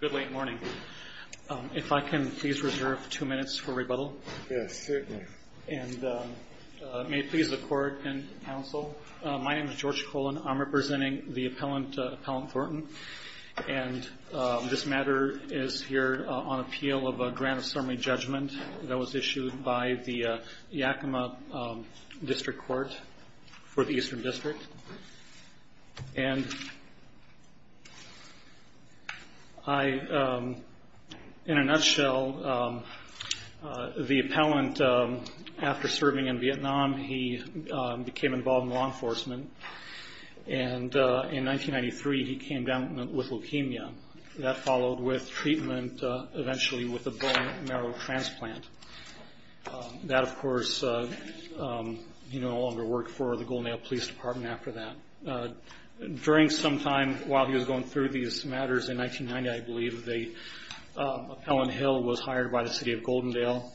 Good late morning. If I can please reserve two minutes for rebuttal. Yes, certainly. And may it please the court and counsel, my name is George Colon. I'm representing the appellant, Appellant Thornton, and this matter is here on appeal of a grant of summary judgment that was issued by the Yakima District Court for the Eastern District. And I, in a nutshell, the appellant, after serving in Vietnam, he became involved in law enforcement, and in 1993 he came down with leukemia. That followed with treatment, eventually with a bone marrow transplant. That, of course, he no longer worked for the Golden Ale Police Department after that. During some time while he was going through these matters, in 1990, I believe, the appellant Hill was hired by the city of Goldendale,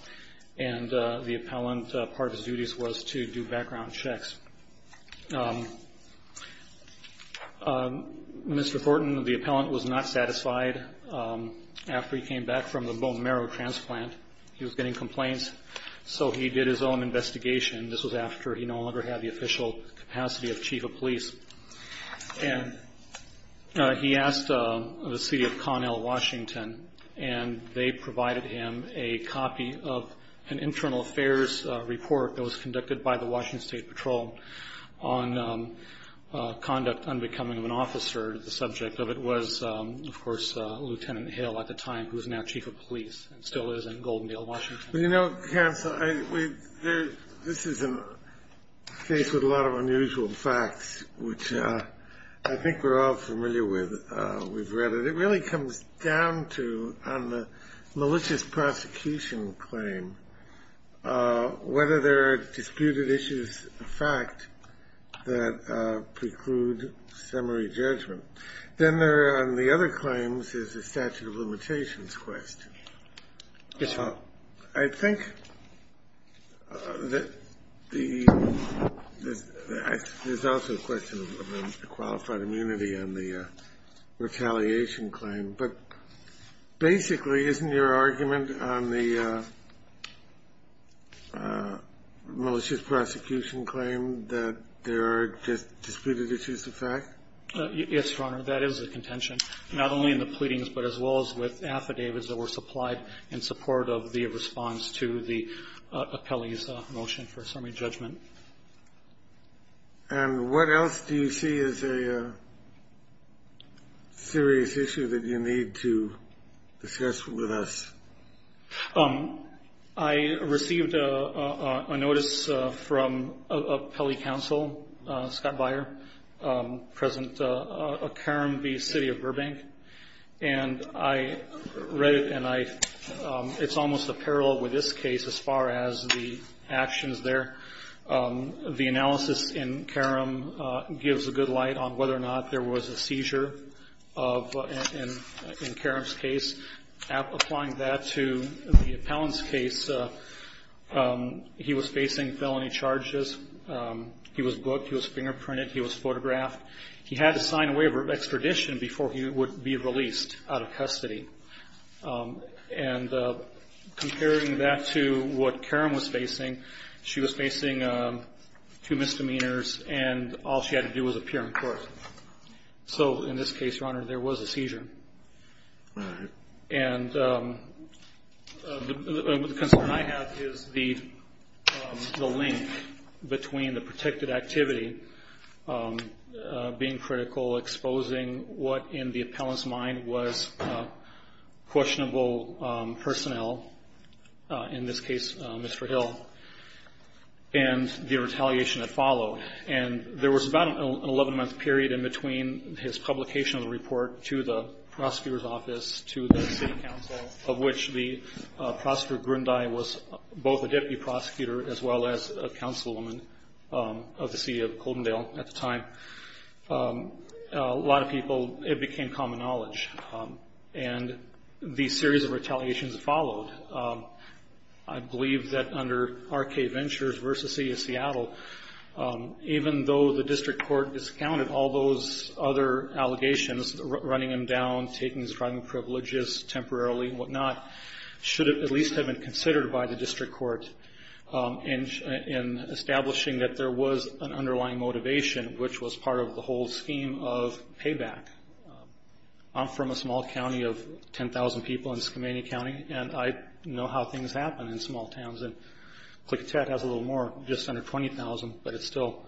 and the appellant, part of his duties was to do background checks. Mr. Thornton, the appellant, was not satisfied. After he came back from the bone marrow transplant, he was getting complaints, so he did his own investigation. This was after he no longer had the official capacity of chief of police. He asked the city of Connell, Washington, and they provided him a copy of an internal affairs report that was conducted by the Washington State Patrol on conduct unbecoming of an officer. The subject of it was, of course, Lieutenant Hill at the time, who is now chief of police and still is in Goldendale, Washington. You know, Hans, this is a case with a lot of unusual facts, which I think we're all familiar with. We've read it. It really comes down to, on the malicious prosecution claim, whether there are disputed issues of fact that preclude summary judgment. Then there on the other claims is a statute of limitations question. Yes, sir. I think that there's also a question of a qualified immunity on the retaliation claim, but basically isn't your argument on the malicious prosecution claim that there are disputed issues of fact? Yes, Your Honor. That is a contention, not only in the pleadings, but as well as with affidavits that were supplied in support of the response to the appellee's motion for summary judgment. And what else do you see as a serious issue that you need to discuss with us? I received a notice from an appellee counsel, Scott Beyer, present at Carambie City of Burbank. And I read it, and it's almost a parallel with this case as far as the actions there. The analysis in Carambie gives a good light on whether or not there was a seizure in Carambie's case. Applying that to the appellant's case, he was facing felony charges. He was booked. He was fingerprinted. He was photographed. He had to sign a waiver of extradition before he would be released out of custody. And comparing that to what Karen was facing, she was facing two misdemeanors, and all she had to do was appear in court. So in this case, Your Honor, there was a seizure. And the concern I have is the link between the protected activity being critical, exposing what in the appellant's mind was questionable personnel, in this case Mr. Hill, and the retaliation that followed. And there was about an 11-month period in between his publication of the report to the prosecutor's office, to the city council, of which the prosecutor, Grundy, was both a deputy prosecutor as well as a councilwoman of the city of Coldendale at the time. A lot of people, it became common knowledge. And these series of retaliations followed. I believe that under R.K. Ventures v. City of Seattle, even though the district court discounted all those other allegations, running him down, taking his driving privileges temporarily and whatnot, should at least have been considered by the district court in establishing that there was an underlying motivation, which was part of the whole scheme of payback. I'm from a small county of 10,000 people in Skamania County, and I know how things happen in small towns. And Klickitat has a little more, just under 20,000, but it's still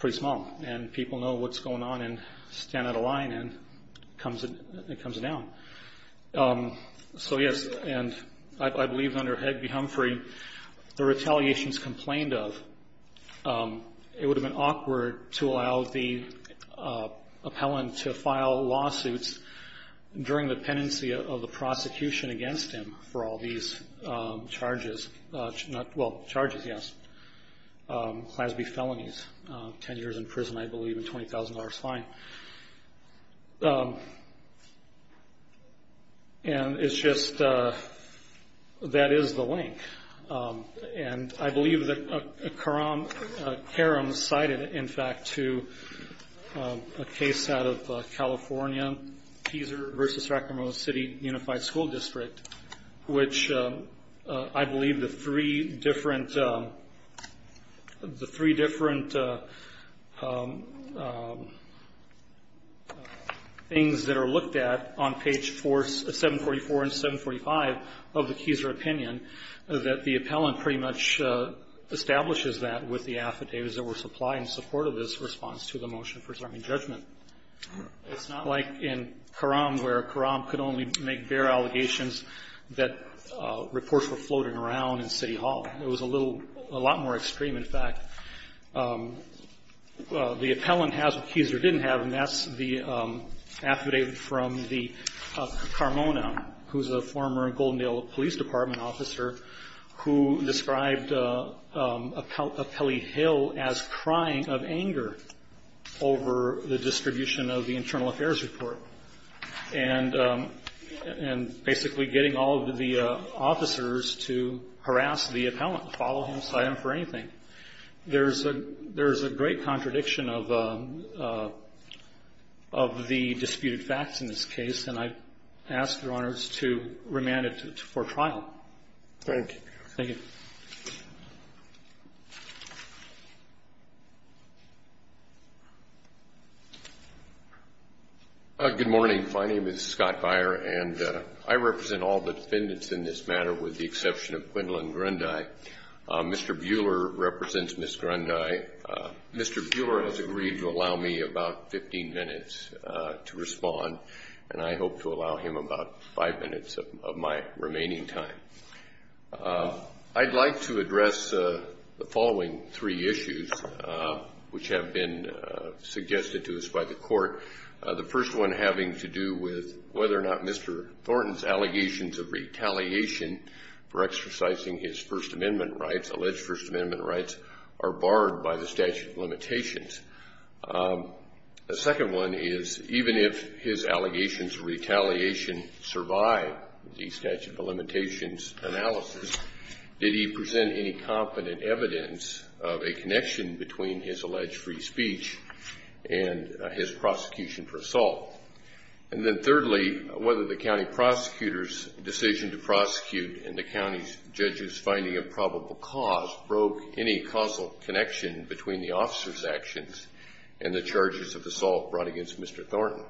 pretty small. And people know what's going on and stand at a line and it comes down. So, yes, and I believe under Hedbie Humphrey, the retaliations complained of, it would have been awkward to allow the appellant to file lawsuits during the pendency of the prosecution against him for all these charges. Well, charges, yes. CLASB felonies. Ten years in prison, I believe, and $20,000 fine. And it's just, that is the link. And I believe that Karam cited, in fact, to a case out of California, Teaser v. Sacramento City Unified School District, which I believe the three different things that are looked at on page 744 and 745 of the Teaser opinion, that the appellant pretty much establishes that with the affidavits that were supplied in support of this response to the Motion of Preserving Judgment. It's not like in Karam, where Karam could only make bare allegations that reports were floating around in City Hall. It was a little, a lot more extreme, in fact. The appellant has what Teaser didn't have, and that's the affidavit from the Carmona, who's a former Goldendale Police Department officer, who described Appellee Hill as crying of anger over the distribution of the Internal Affairs report and basically getting all of the officers to harass the appellant, follow him, cite him for anything. There's a great contradiction of the disputed facts in this case, and I ask Your Honors to remand it for trial. Thank you. Thank you. Good morning. My name is Scott Beyer, and I represent all the defendants in this matter, with the exception of Gwendolyn Grundy. Mr. Buehler represents Ms. Grundy. Mr. Buehler has agreed to allow me about 15 minutes to respond, and I hope to allow him about five minutes of my remaining time. I'd like to address the following three issues which have been suggested to us by the court. The first one having to do with whether or not Mr. Thornton's allegations of retaliation for exercising his First Amendment rights, alleged First Amendment rights, are barred by the statute of limitations. The second one is even if his allegations of retaliation survive the statute of limitations analysis, did he present any competent evidence of a connection between his alleged free speech and his prosecution for assault? And then thirdly, whether the county prosecutor's decision to prosecute and the county judge's finding of probable cause broke any causal connection between the officer's actions and the charges of assault brought against Mr. Thornton.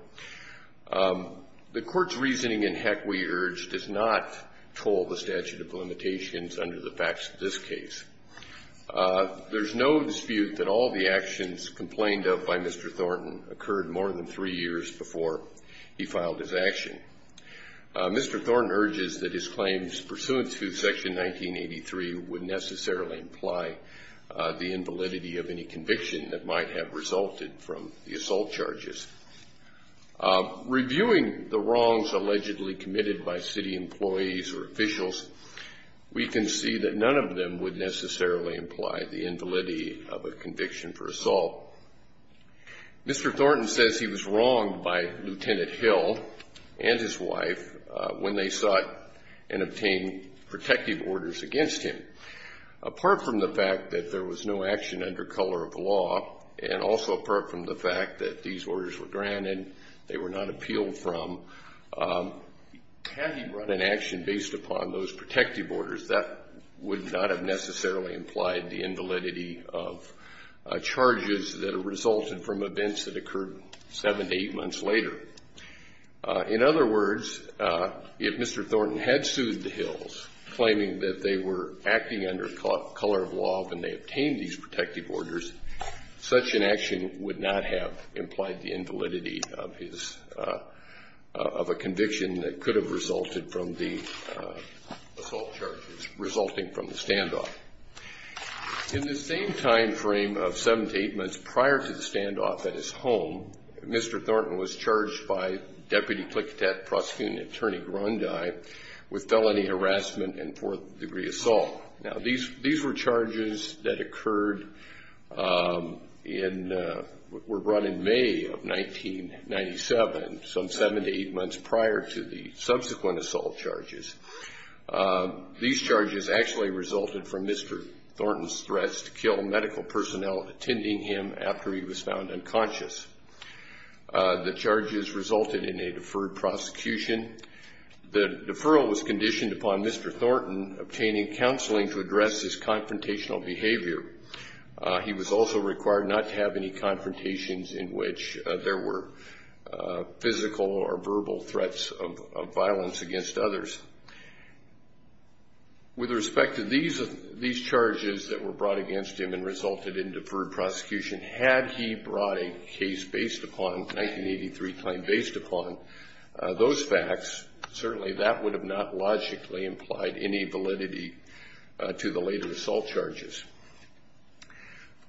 The court's reasoning in Heck, We Urge does not toll the statute of limitations under the facts of this case. There's no dispute that all the actions complained of by Mr. Thornton occurred more than three years before he filed his action. Mr. Thornton urges that his claims pursuant to Section 1983 would necessarily imply the invalidity of any conviction that might have resulted from the assault charges. Reviewing the wrongs allegedly committed by city employees or officials, we can see that none of them would necessarily imply the invalidity of a conviction for assault. Mr. Thornton says he was wronged by Lieutenant Hill and his wife when they sought and obtained protective orders against him. Apart from the fact that there was no action under color of law and also apart from the fact that these orders were granted, they were not appealed from, had he run an action based upon those protective orders, that would not have necessarily implied the invalidity of charges that resulted from events that occurred seven to eight months later. In other words, if Mr. Thornton had sued the Hills, claiming that they were acting under color of law when they obtained these protective orders, such an action would not have implied the invalidity of his, of a conviction that could have resulted from the assault charges resulting from the standoff. In the same time frame of seven to eight months prior to the standoff at his home, Mr. Thornton was charged by Deputy Cliquetet Prosecuting Attorney Grundy with felony harassment and fourth degree assault. Now these were charges that occurred in, were brought in May of 1997, some seven to eight months prior to the subsequent assault charges. These charges actually resulted from Mr. Thornton's threats to kill medical personnel attending him after he was found unconscious. The charges resulted in a deferred prosecution. The deferral was conditioned upon Mr. Thornton obtaining counseling to address his confrontational behavior. He was also required not to have any confrontations in which there were physical or verbal threats of violence against others. With respect to these charges that were brought against him and resulted in deferred prosecution, had he brought a case based upon, 1983 claim based upon, those facts, certainly that would have not logically implied any validity to the later assault charges.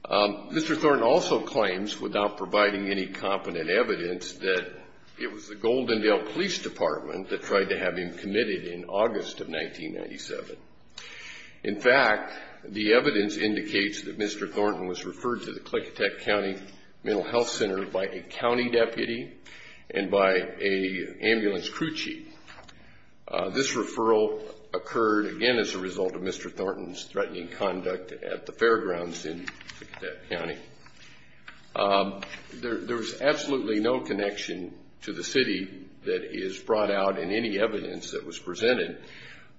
Mr. Thornton also claims, without providing any competent evidence, that it was the Goldendale Police Department that tried to have him committed in August of 1997. In fact, the evidence indicates that Mr. Thornton was referred to the Klickitech County Mental Health Center by a county deputy and by an ambulance crew chief. This referral occurred, again, as a result of Mr. Thornton's threatening conduct at the fairgrounds in Klickitech County. There is absolutely no connection to the city that is brought out in any evidence that was presented,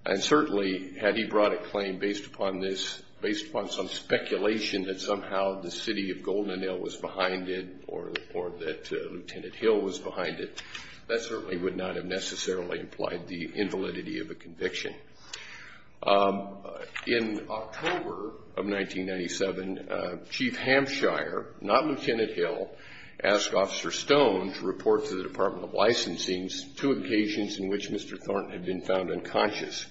and certainly had he brought a claim based upon some speculation that somehow the city of Goldendale was behind it or that Lieutenant Hill was behind it, that certainly would not have necessarily implied the invalidity of a conviction. In October of 1997, Chief Hampshire, not Lieutenant Hill, asked Officer Stone to report to the Department of Licensing two occasions in which Mr. Thornton had been found unconscious.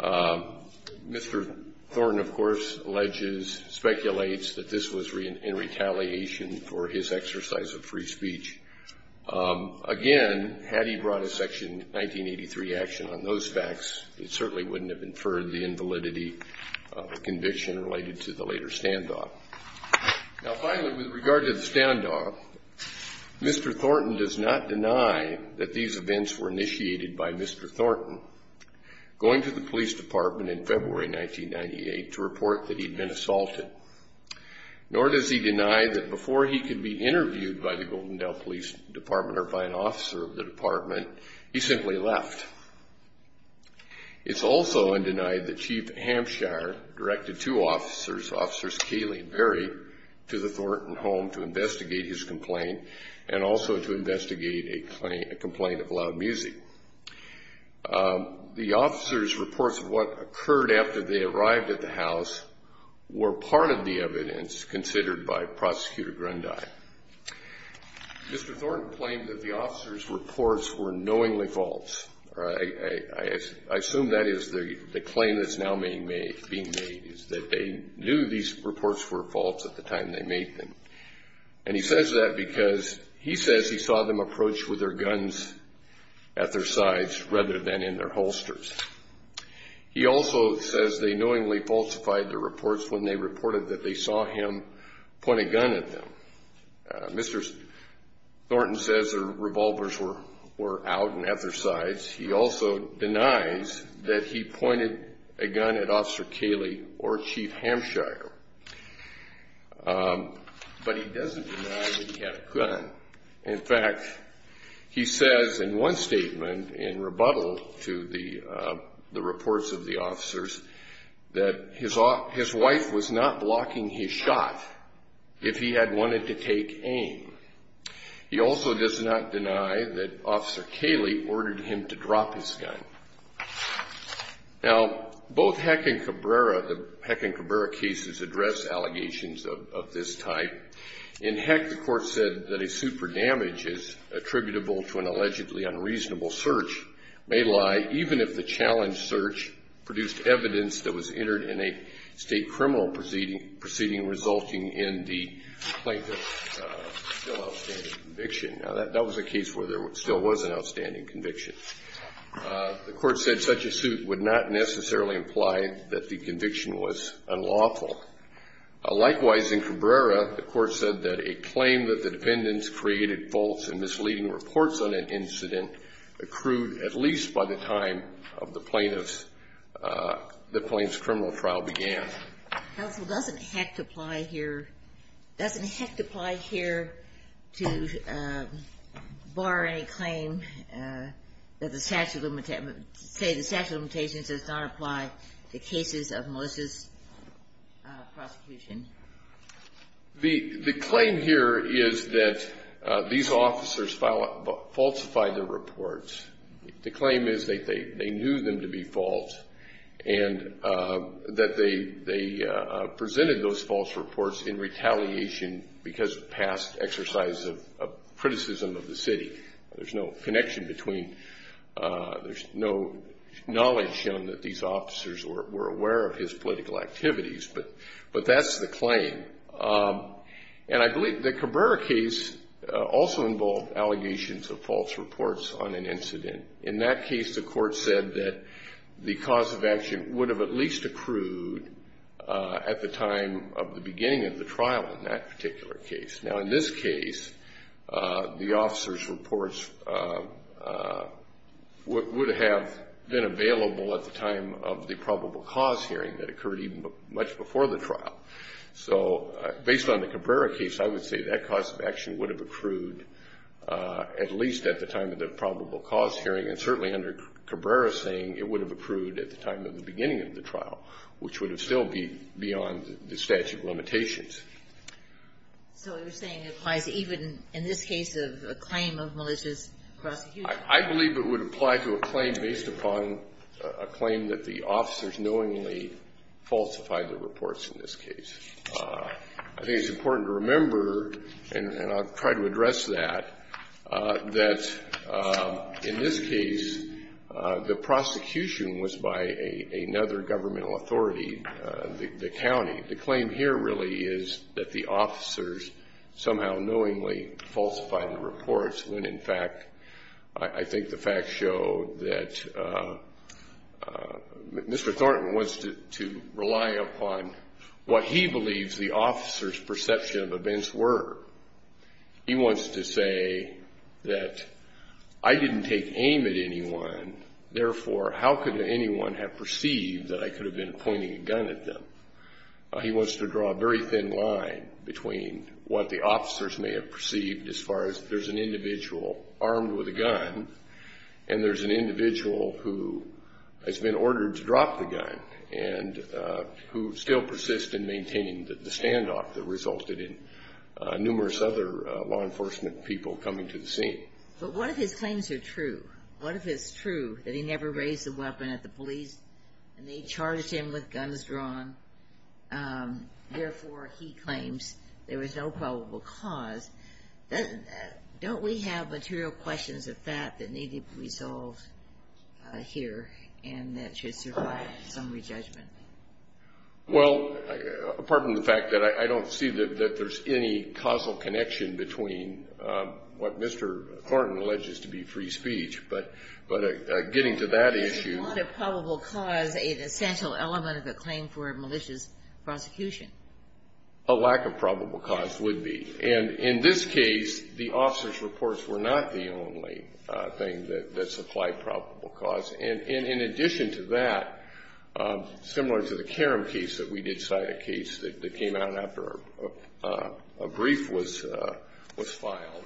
Mr. Thornton, of course, alleges, speculates that this was in retaliation for his exercise of free speech. Again, had he brought a Section 1983 action on those facts, it certainly wouldn't have inferred the invalidity of a conviction related to the later standoff. Now finally, with regard to the standoff, Mr. Thornton does not deny that these events were initiated by Mr. Thornton going to the police department in February 1998 to report that he'd been assaulted, nor does he deny that before he could be interviewed by the Goldendale Police Department or by an officer of the department, he simply left. It's also undenied that Chief Hampshire directed two officers, Officers Cayley and Berry, to the Thornton home to investigate his complaint and also to investigate a complaint of loud music. The officers' reports of what occurred after they arrived at the house were part of the evidence considered by Prosecutor Grundy. Mr. Thornton claimed that the officers' reports were knowingly false. I assume that is the claim that's now being made, is that they knew these reports were false at the time they made them. And he says that because he says he saw them approached with their guns at their sides rather than in their holsters. He also says they knowingly falsified the reports when they reported that they saw him point a gun at them. Mr. Thornton says their revolvers were out and at their sides. He also denies that he pointed a gun at Officer Cayley or Chief Hampshire. But he doesn't deny that he had a gun. In fact, he says in one statement in rebuttal to the reports of the officers that his wife was not blocking his shot if he had wanted to take aim. He also does not deny that Officer Cayley ordered him to drop his gun. Now, both Heck and Cabrera, the Heck and Cabrera cases, address allegations of this type. In Heck, the court said that a suit for damage is attributable to an allegedly unreasonable search, may lie even if the challenged search produced evidence that was entered in a state criminal proceeding resulting in the plaintiff's still outstanding conviction. Now, that was a case where there still was an outstanding conviction. The court said such a suit would not necessarily imply that the conviction was unlawful. Likewise, in Cabrera, the court said that a claim that the defendants created false and misleading reports on an incident accrued at least by the time of the plaintiff's, the plaintiff's criminal trial began. Counsel, doesn't Heck apply here, doesn't Heck apply here to bar any claim that the statute of limitations, say the statute of limitations does not apply to cases of malicious prosecution? The claim here is that these officers falsified their reports. The claim is that they knew them to be false and that they presented those false reports in retaliation because of past exercise of criticism of the city. There's no connection between, there's no knowledge shown that these officers were aware of his political activities. But that's the claim. And I believe the Cabrera case also involved allegations of false reports on an incident. In that case, the court said that the cause of action would have at least accrued at the time of the beginning of the trial in that particular case. Now, in this case, the officers' reports would have been available at the time of the probable cause hearing that occurred even much before the trial. So based on the Cabrera case, I would say that cause of action would have accrued at least at the time of the probable cause hearing, and certainly under Cabrera saying it would have accrued at the time of the beginning of the trial, which would have still be beyond the statute of limitations. So you're saying it applies even in this case of a claim of malicious prosecution? I believe it would apply to a claim based upon a claim that the officers knowingly falsified their reports in this case. I think it's important to remember, and I'll try to address that, that in this case, the prosecution was by another governmental authority, the county. The claim here really is that the officers somehow knowingly falsified the reports when, in fact, I think the facts show that Mr. Thornton wants to rely upon what he believes the officers' perception of events were. He wants to say that I didn't take aim at anyone. Therefore, how could anyone have perceived that I could have been pointing a gun at them? He wants to draw a very thin line between what the officers may have perceived as far as there's an individual armed with a gun and there's an individual who has been ordered to drop the gun and who still persists in maintaining the standoff that resulted in numerous other law enforcement people coming to the scene. But what if his claims are true? What if it's true that he never raised the weapon at the police and they charged him with guns drawn? Therefore, he claims there was no probable cause. Don't we have material questions of that that need to be resolved here and that should survive some re-judgment? Well, apart from the fact that I don't see that there's any causal connection between what Mr. Thornton alleges to be free speech, but getting to that issue. Isn't what a probable cause an essential element of a claim for a malicious prosecution? A lack of probable cause would be. And in this case, the officers' reports were not the only thing that supplied probable cause. And in addition to that, similar to the Karam case that we did cite, a case that came out after a brief was filed,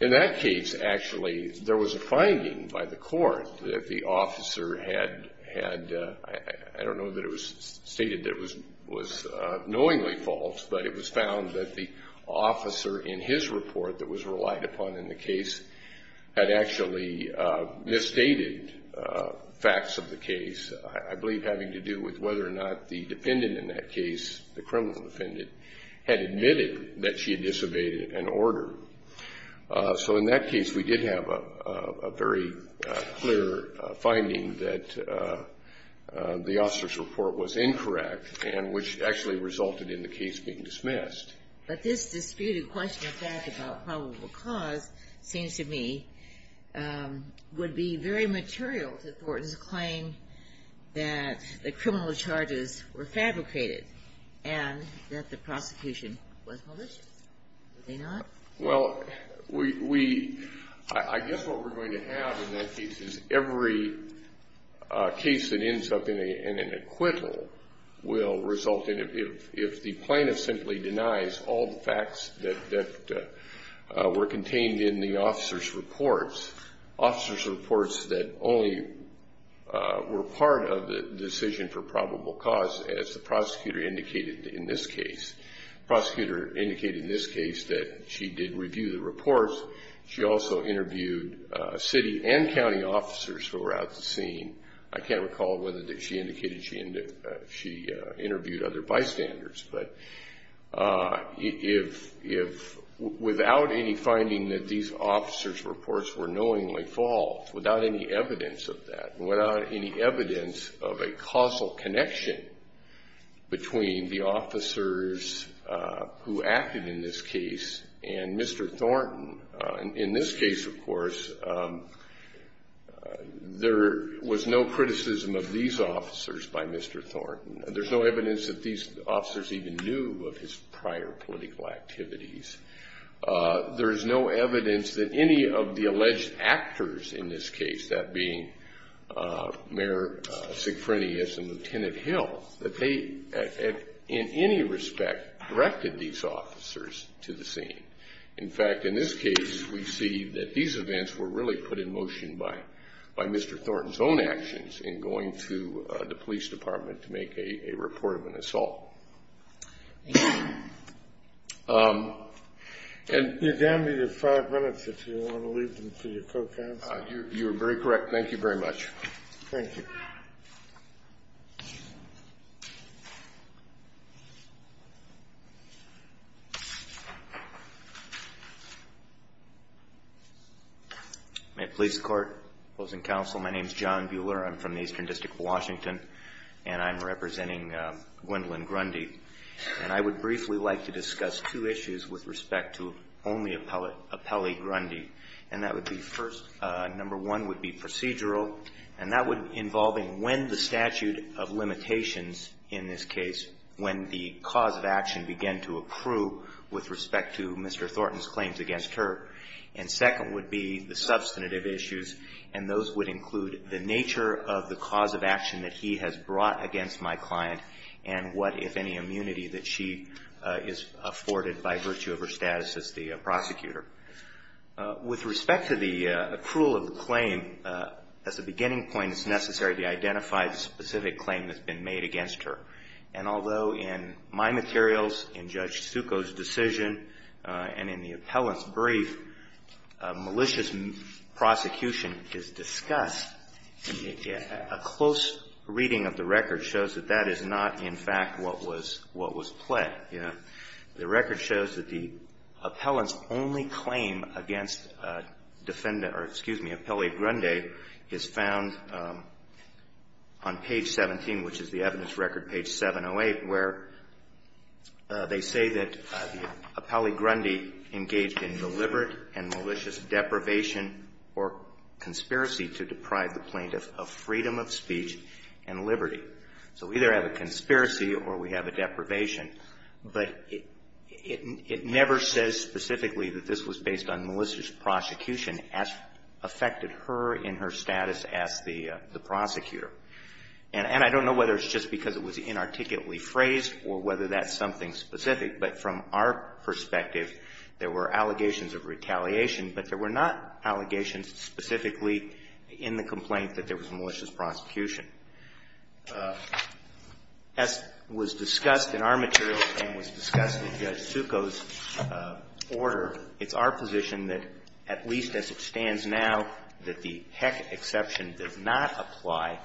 in that case, actually, there was a finding by the court that the officer had, I don't know that it was stated that it was knowingly false, but it was found that the officer in his report that was relied upon in the case had actually misstated facts of the case, I believe having to do with whether or not the defendant in that case, the criminal defendant, had admitted that she had disobeyed an order. So in that case, we did have a very clear finding that the officer's report was incorrect, and which actually resulted in the case being dismissed. But this disputed question of fact about probable cause seems to me would be very material to Thornton's claim that the criminal charges were fabricated and that the prosecution was malicious. Were they not? Well, I guess what we're going to have in that case is every case that ends up in an acquittal will result in, if the plaintiff simply denies all the facts that were contained in the officer's reports, officer's reports that only were part of the decision for probable cause, as the prosecutor indicated in this case. The prosecutor indicated in this case that she did review the reports. She also interviewed city and county officers who were at the scene. I can't recall whether she indicated she interviewed other bystanders. But without any finding that these officer's reports were knowingly false, without any evidence of that, between the officers who acted in this case and Mr. Thornton. In this case, of course, there was no criticism of these officers by Mr. Thornton. There's no evidence that these officers even knew of his prior political activities. There's no evidence that any of the alleged actors in this case, that being Mayor Sigfrinius and Lieutenant Hill, that they, in any respect, directed these officers to the scene. In fact, in this case, we see that these events were really put in motion by Mr. Thornton's own actions in going to the police department to make a report of an assault. You're down to your five minutes if you want to leave them to your co-counsel. You're very correct. Thank you very much. Thank you. May it please the Court, opposing counsel, my name is John Bueller. I'm from the Eastern District of Washington, and I'm representing Gwendolyn Grundy. And I would briefly like to discuss two issues with respect to only appellee Grundy. And that would be first, number one would be procedural. And that would involve when the statute of limitations in this case, when the cause of action began to approve with respect to Mr. Thornton's claims against her. And second would be the substantive issues. And those would include the nature of the cause of action that he has brought against my client, and what, if any, immunity that she is afforded by virtue of her status as the prosecutor. With respect to the accrual of the claim, as a beginning point, it's necessary to identify the specific claim that's been made against her. And although in my materials, in Judge Succo's decision, and in the appellant's brief, malicious prosecution is discussed, a close reading of the record shows that that is not, in fact, what was played. The record shows that the appellant's only claim against defendant, or excuse me, appellee Grundy is found on page 17, which is the evidence record, page 708, where they say that appellee Grundy engaged in deliberate and malicious deprivation or conspiracy to deprive the plaintiff of freedom of speech and liberty. So we either have a conspiracy or we have a deprivation. But it never says specifically that this was based on malicious prosecution as affected her in her status as the prosecutor. And I don't know whether it's just because it was inarticulately phrased or whether that's something specific, but from our perspective, there were allegations of retaliation, but there were not allegations specifically in the complaint that there was malicious prosecution. As was discussed in our material and was discussed in Judge Succo's order, it's our position that, at least as it stands now, that the heck exception does not apply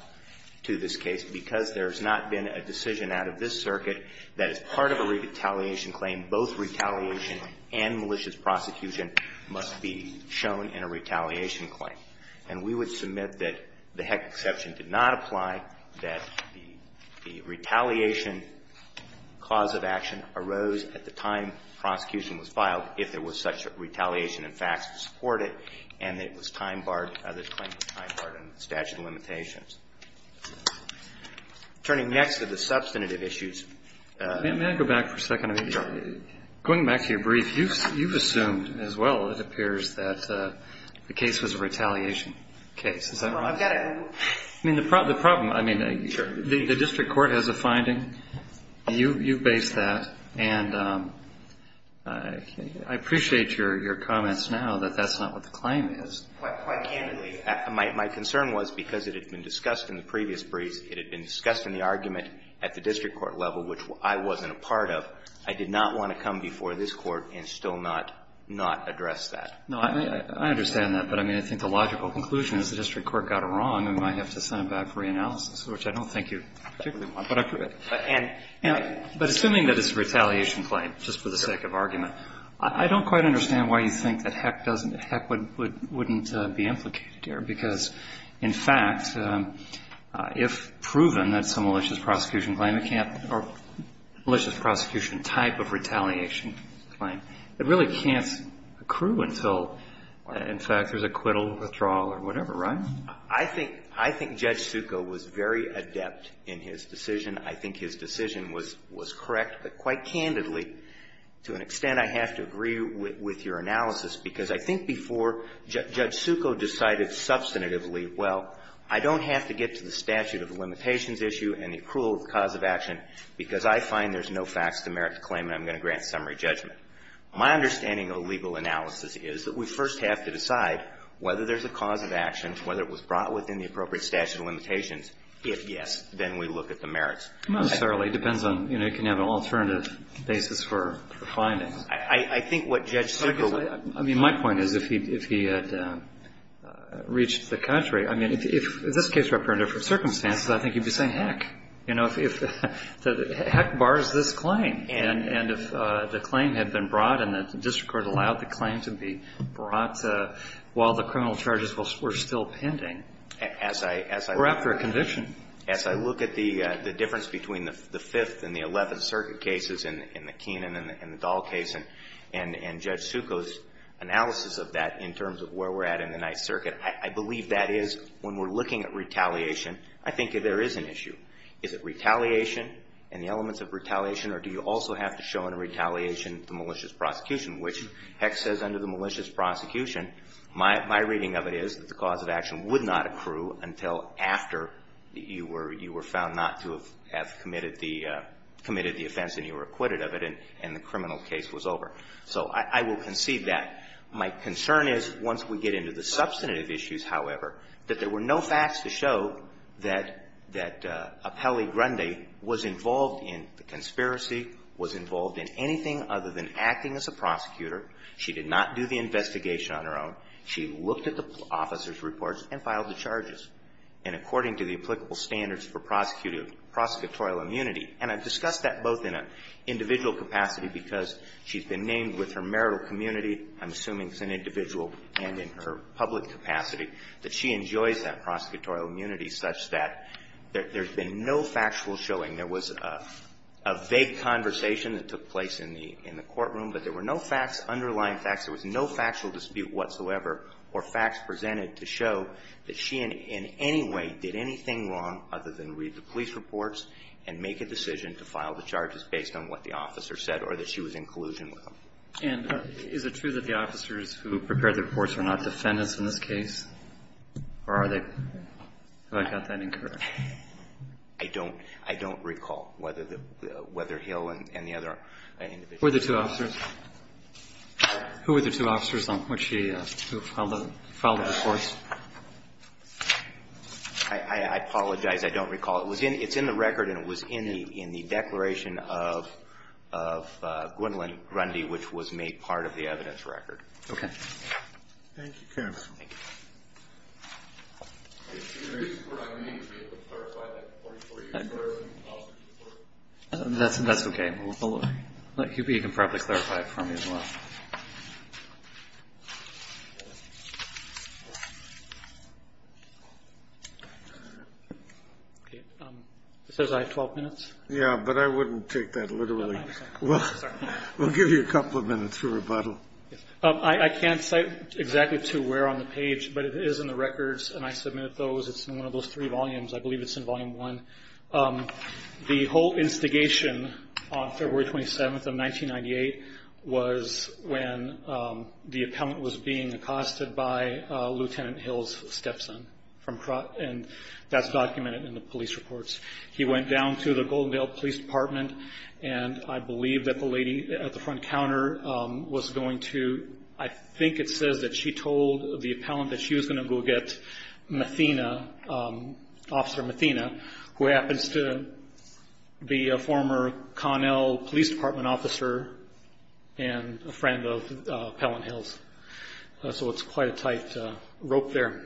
to this case because there has not been a decision out of this circuit that is part of a retaliation claim. Both retaliation and malicious prosecution must be shown in a retaliation claim. And we would submit that the heck exception did not apply, that the retaliation cause of action arose at the time prosecution was filed if there was such retaliation and facts to support it, and that it was time barred, the claim was time barred under the statute of limitations. Turning next to the substantive issues. Roberts. May I go back for a second? Go ahead. Going back to your brief, you've assumed as well, it appears, that the case was a retaliation case, is that right? I've got it. I mean, the problem, I mean, the district court has a finding. You've based that. And I appreciate your comments now that that's not what the claim is. Quite candidly, my concern was because it had been discussed in the previous brief, it had been discussed in the argument at the district court level, which I wasn't a part of, I did not want to come before this court and still not address that. No, I understand that. But, I mean, I think the logical conclusion is the district court got it wrong and we might have to send it back for reanalysis, which I don't think you particularly want. But assuming that it's a retaliation claim, just for the sake of argument, I don't quite understand why you think that heck doesn't, heck wouldn't be implicated here, because, in fact, if proven that it's a malicious prosecution claim, it can't or malicious prosecution type of retaliation claim, it really can't accrue until, in fact, there's acquittal, withdrawal, or whatever, right? I think Judge Succo was very adept in his decision. I think his decision was correct. But quite candidly, to an extent, I have to agree with your analysis, because I think before Judge Succo decided substantively, well, I don't have to get to the merits, because I find there's no facts to merit the claim and I'm going to grant summary judgment. My understanding of legal analysis is that we first have to decide whether there's a cause of action, whether it was brought within the appropriate statute of limitations. If yes, then we look at the merits. Not necessarily. It depends on, you know, you can have an alternative basis for finding. I think what Judge Succo was saying. I mean, my point is, if he had reached the contrary, I mean, if this case were up for different circumstances, I think he'd be saying, heck, you know, heck, bars this claim. And if the claim had been brought and the district court allowed the claim to be brought while the criminal charges were still pending. Or after a conviction. As I look at the difference between the Fifth and the Eleventh Circuit cases in the Keenan and the Dahl case, and Judge Succo's analysis of that in terms of where we're at in the Ninth Circuit, I believe that is, when we're looking at retaliation, I think there is an issue. Is it retaliation and the elements of retaliation? Or do you also have to show in a retaliation the malicious prosecution? Which, heck says under the malicious prosecution, my reading of it is that the cause of action would not accrue until after you were found not to have committed the offense and you were acquitted of it and the criminal case was over. So I will concede that. My concern is, once we get into the substantive issues, however, that there were no facts to show that Appelli Grundy was involved in the conspiracy, was involved in anything other than acting as a prosecutor. She did not do the investigation on her own. She looked at the officer's reports and filed the charges. And according to the applicable standards for prosecutorial immunity, and I've discussed that both in an individual capacity because she's been named with her marital community, I'm assuming it's an individual and in her public capacity, that she enjoys that prosecutorial immunity such that there's been no factual showing. There was a vague conversation that took place in the courtroom, but there were no facts, underlying facts. There was no factual dispute whatsoever or facts presented to show that she in any way did anything wrong other than read the police reports and make a decision to file the charges based on what the officer said or that she was in collusion with them. And is it true that the officers who prepared the reports were not defendants in this case? Or are they? Have I got that incorrect? I don't recall whether Hill and the other individuals. Were there two officers? Who were the two officers on which she filed the reports? I apologize. I don't recall. It's in the record and it was in the declaration of Gwendolyn Grundy, which was made part of the evidence record. Okay. Thank you, counsel. Thank you. I'm going to need to be able to clarify that for you. That's okay. You can probably clarify it for me as well. Okay. It says I have 12 minutes. Yeah, but I wouldn't take that literally. We'll give you a couple of minutes for rebuttal. I can't cite exactly to where on the page, but it is in the records and I submitted those. It's in one of those three volumes. I believe it's in volume one. The whole instigation on February 27th of 1998 was when the appellant was being accosted by Lieutenant Hills' stepson and that's documented in the police reports. He went down to the Goldendale Police Department and I believe that the lady at the front counter was going to, I think it says that she told the appellant that she was going to go get Mathena, Officer Mathena, who happens to be a former Connell Police Department officer and a friend of Appellant Hills. So it's quite a tight rope there.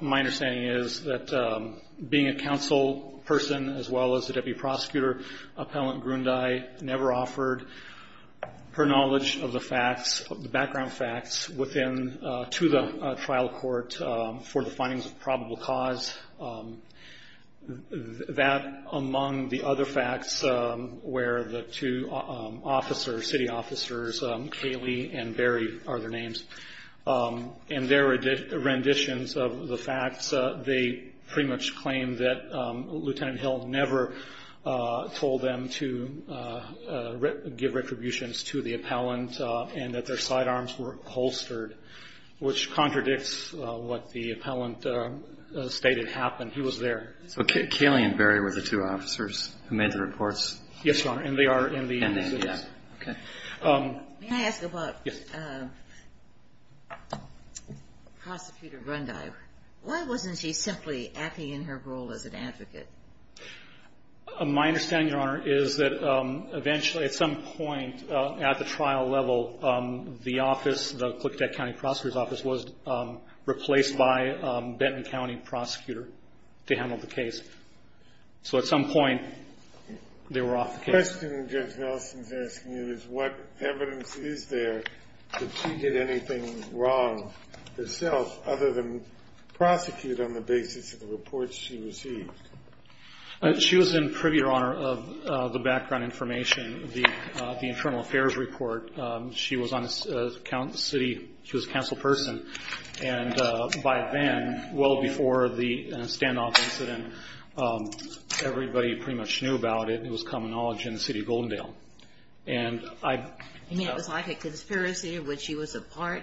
My understanding is that being a counsel person as well as a deputy prosecutor, Appellant Grundy never offered her knowledge of the facts, the background facts, to the trial court for the findings of probable cause. That, among the other facts where the two officers, city officers, Caylee and Berry are their names, and their renditions of the facts, they pretty much claim that Lieutenant Hill never told them to give retributions to the appellant and that their side arms were holstered, which contradicts what the appellant stated happened. He was there. So Caylee and Berry were the two officers who made the reports? Yes, Your Honor. And they are in the... And they did. Okay. May I ask about... Yes. Prosecutor Grundy, why wasn't she simply acting in her role as an advocate? My understanding, Your Honor, is that eventually at some point at the trial level, the office, the Klicktec County Prosecutor's Office, was replaced by a Benton County prosecutor to handle the case. So at some point, they were off the case. The question Judge Nelson is asking you is what evidence is there that she did anything wrong herself other than prosecute on the basis of the reports she received? She was in pretty good honor of the background information, the Internal Affairs Report. She was a council person. And by then, well before the standoff incident, everybody pretty much knew about it. It was common knowledge in the city of Goldendale. And I... You mean it was like a conspiracy in which she was a part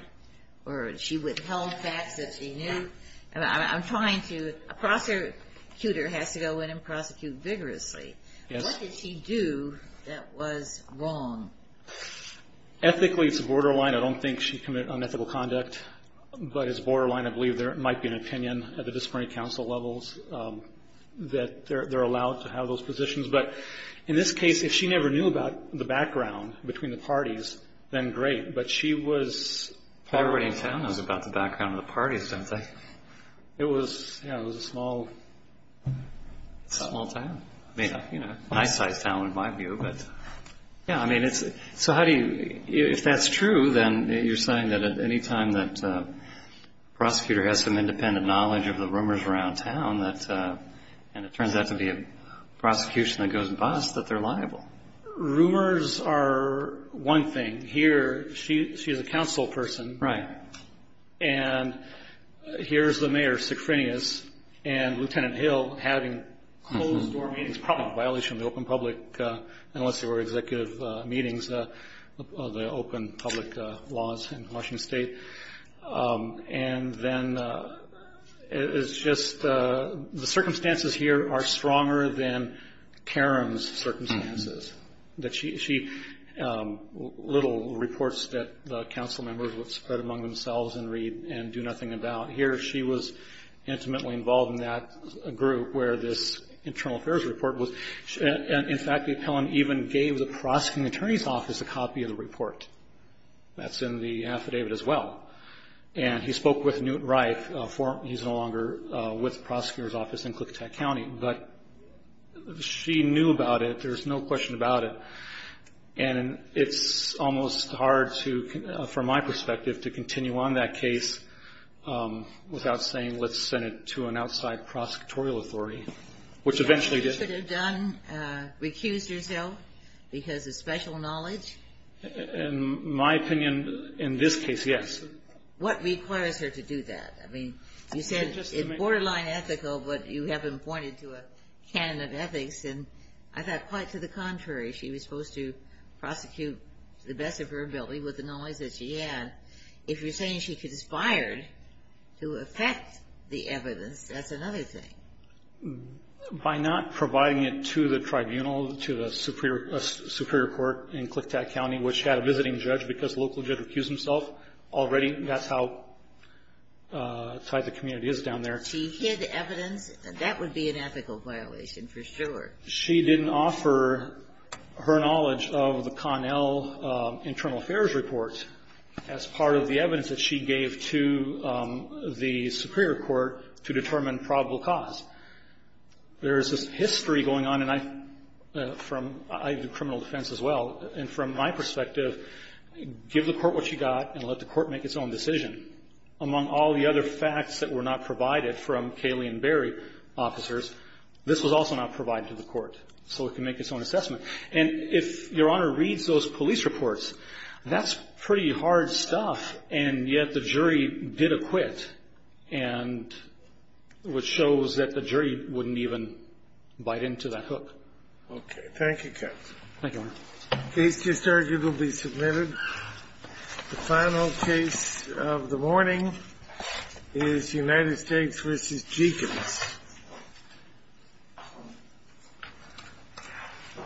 or she withheld facts that she knew? I'm trying to... A prosecutor has to go in and prosecute vigorously. Yes. What did she do that was wrong? Ethically, it's a borderline. I don't think she committed unethical conduct. But it's borderline. I believe there might be an opinion at the disciplinary council levels that they're allowed to have those positions. But in this case, if she never knew about the background between the parties, then great. But she was... Everybody in town knows about the background of the parties, don't they? It was a small... Small town. A nice-sized town in my view, but... Yeah, I mean it's... So how do you... If that's true, then you're saying that at any time that a prosecutor has some independent knowledge of the rumors around town that... And it turns out to be a prosecution that goes bust, that they're liable. Rumors are one thing. Here, she's a council person. Right. And here's the mayor, Secrinius, and Lieutenant Hill having closed-door meetings, probably a violation of the open public... Unless they were executive meetings, the open public laws in Washington State. And then it's just... The circumstances here are stronger than Karen's circumstances. She... Little reports that the council members would spread among themselves and read and do nothing about. Here, she was intimately involved in that group where this internal affairs report was... In fact, the appellant even gave the prosecuting attorney's office a copy of the report. That's in the affidavit as well. And he spoke with Newt Reif. He's no longer with the prosecutor's office in Klickitat County. But she knew about it. There's no question about it. And it's almost hard to, from my perspective, to continue on that case without saying, let's send it to an outside prosecutorial authority, which eventually did. Should have done, recused herself because of special knowledge? In my opinion, in this case, yes. What requires her to do that? I mean, you said it's borderline ethical, but you haven't pointed to a canon of ethics. And I thought quite to the contrary. She was supposed to prosecute to the best of her ability with the knowledge that she had. If you're saying she conspired to affect the evidence, that's another thing. By not providing it to the tribunal, to the superior court in Klickitat County, which had a visiting judge because the local judge recused himself already, that's how tight the community is down there. She hid evidence. That would be an ethical violation for sure. She didn't offer her knowledge of the Connell Internal Affairs report as part of the evidence that she gave to the superior court to determine probable cause. There is this history going on, and I do criminal defense as well, and from my perspective, give the court what you got and let the court make its own decision. Among all the other facts that were not provided from Caylee and Barry officers, this was also not provided to the court so it could make its own assessment. And if Your Honor reads those police reports, that's pretty hard stuff, and yet the jury did acquit, which shows that the jury wouldn't even bite into that hook. Okay. Thank you, counsel. Thank you, Your Honor. Case just arguably submitted. The final case of the morning is United States v. Jeacons.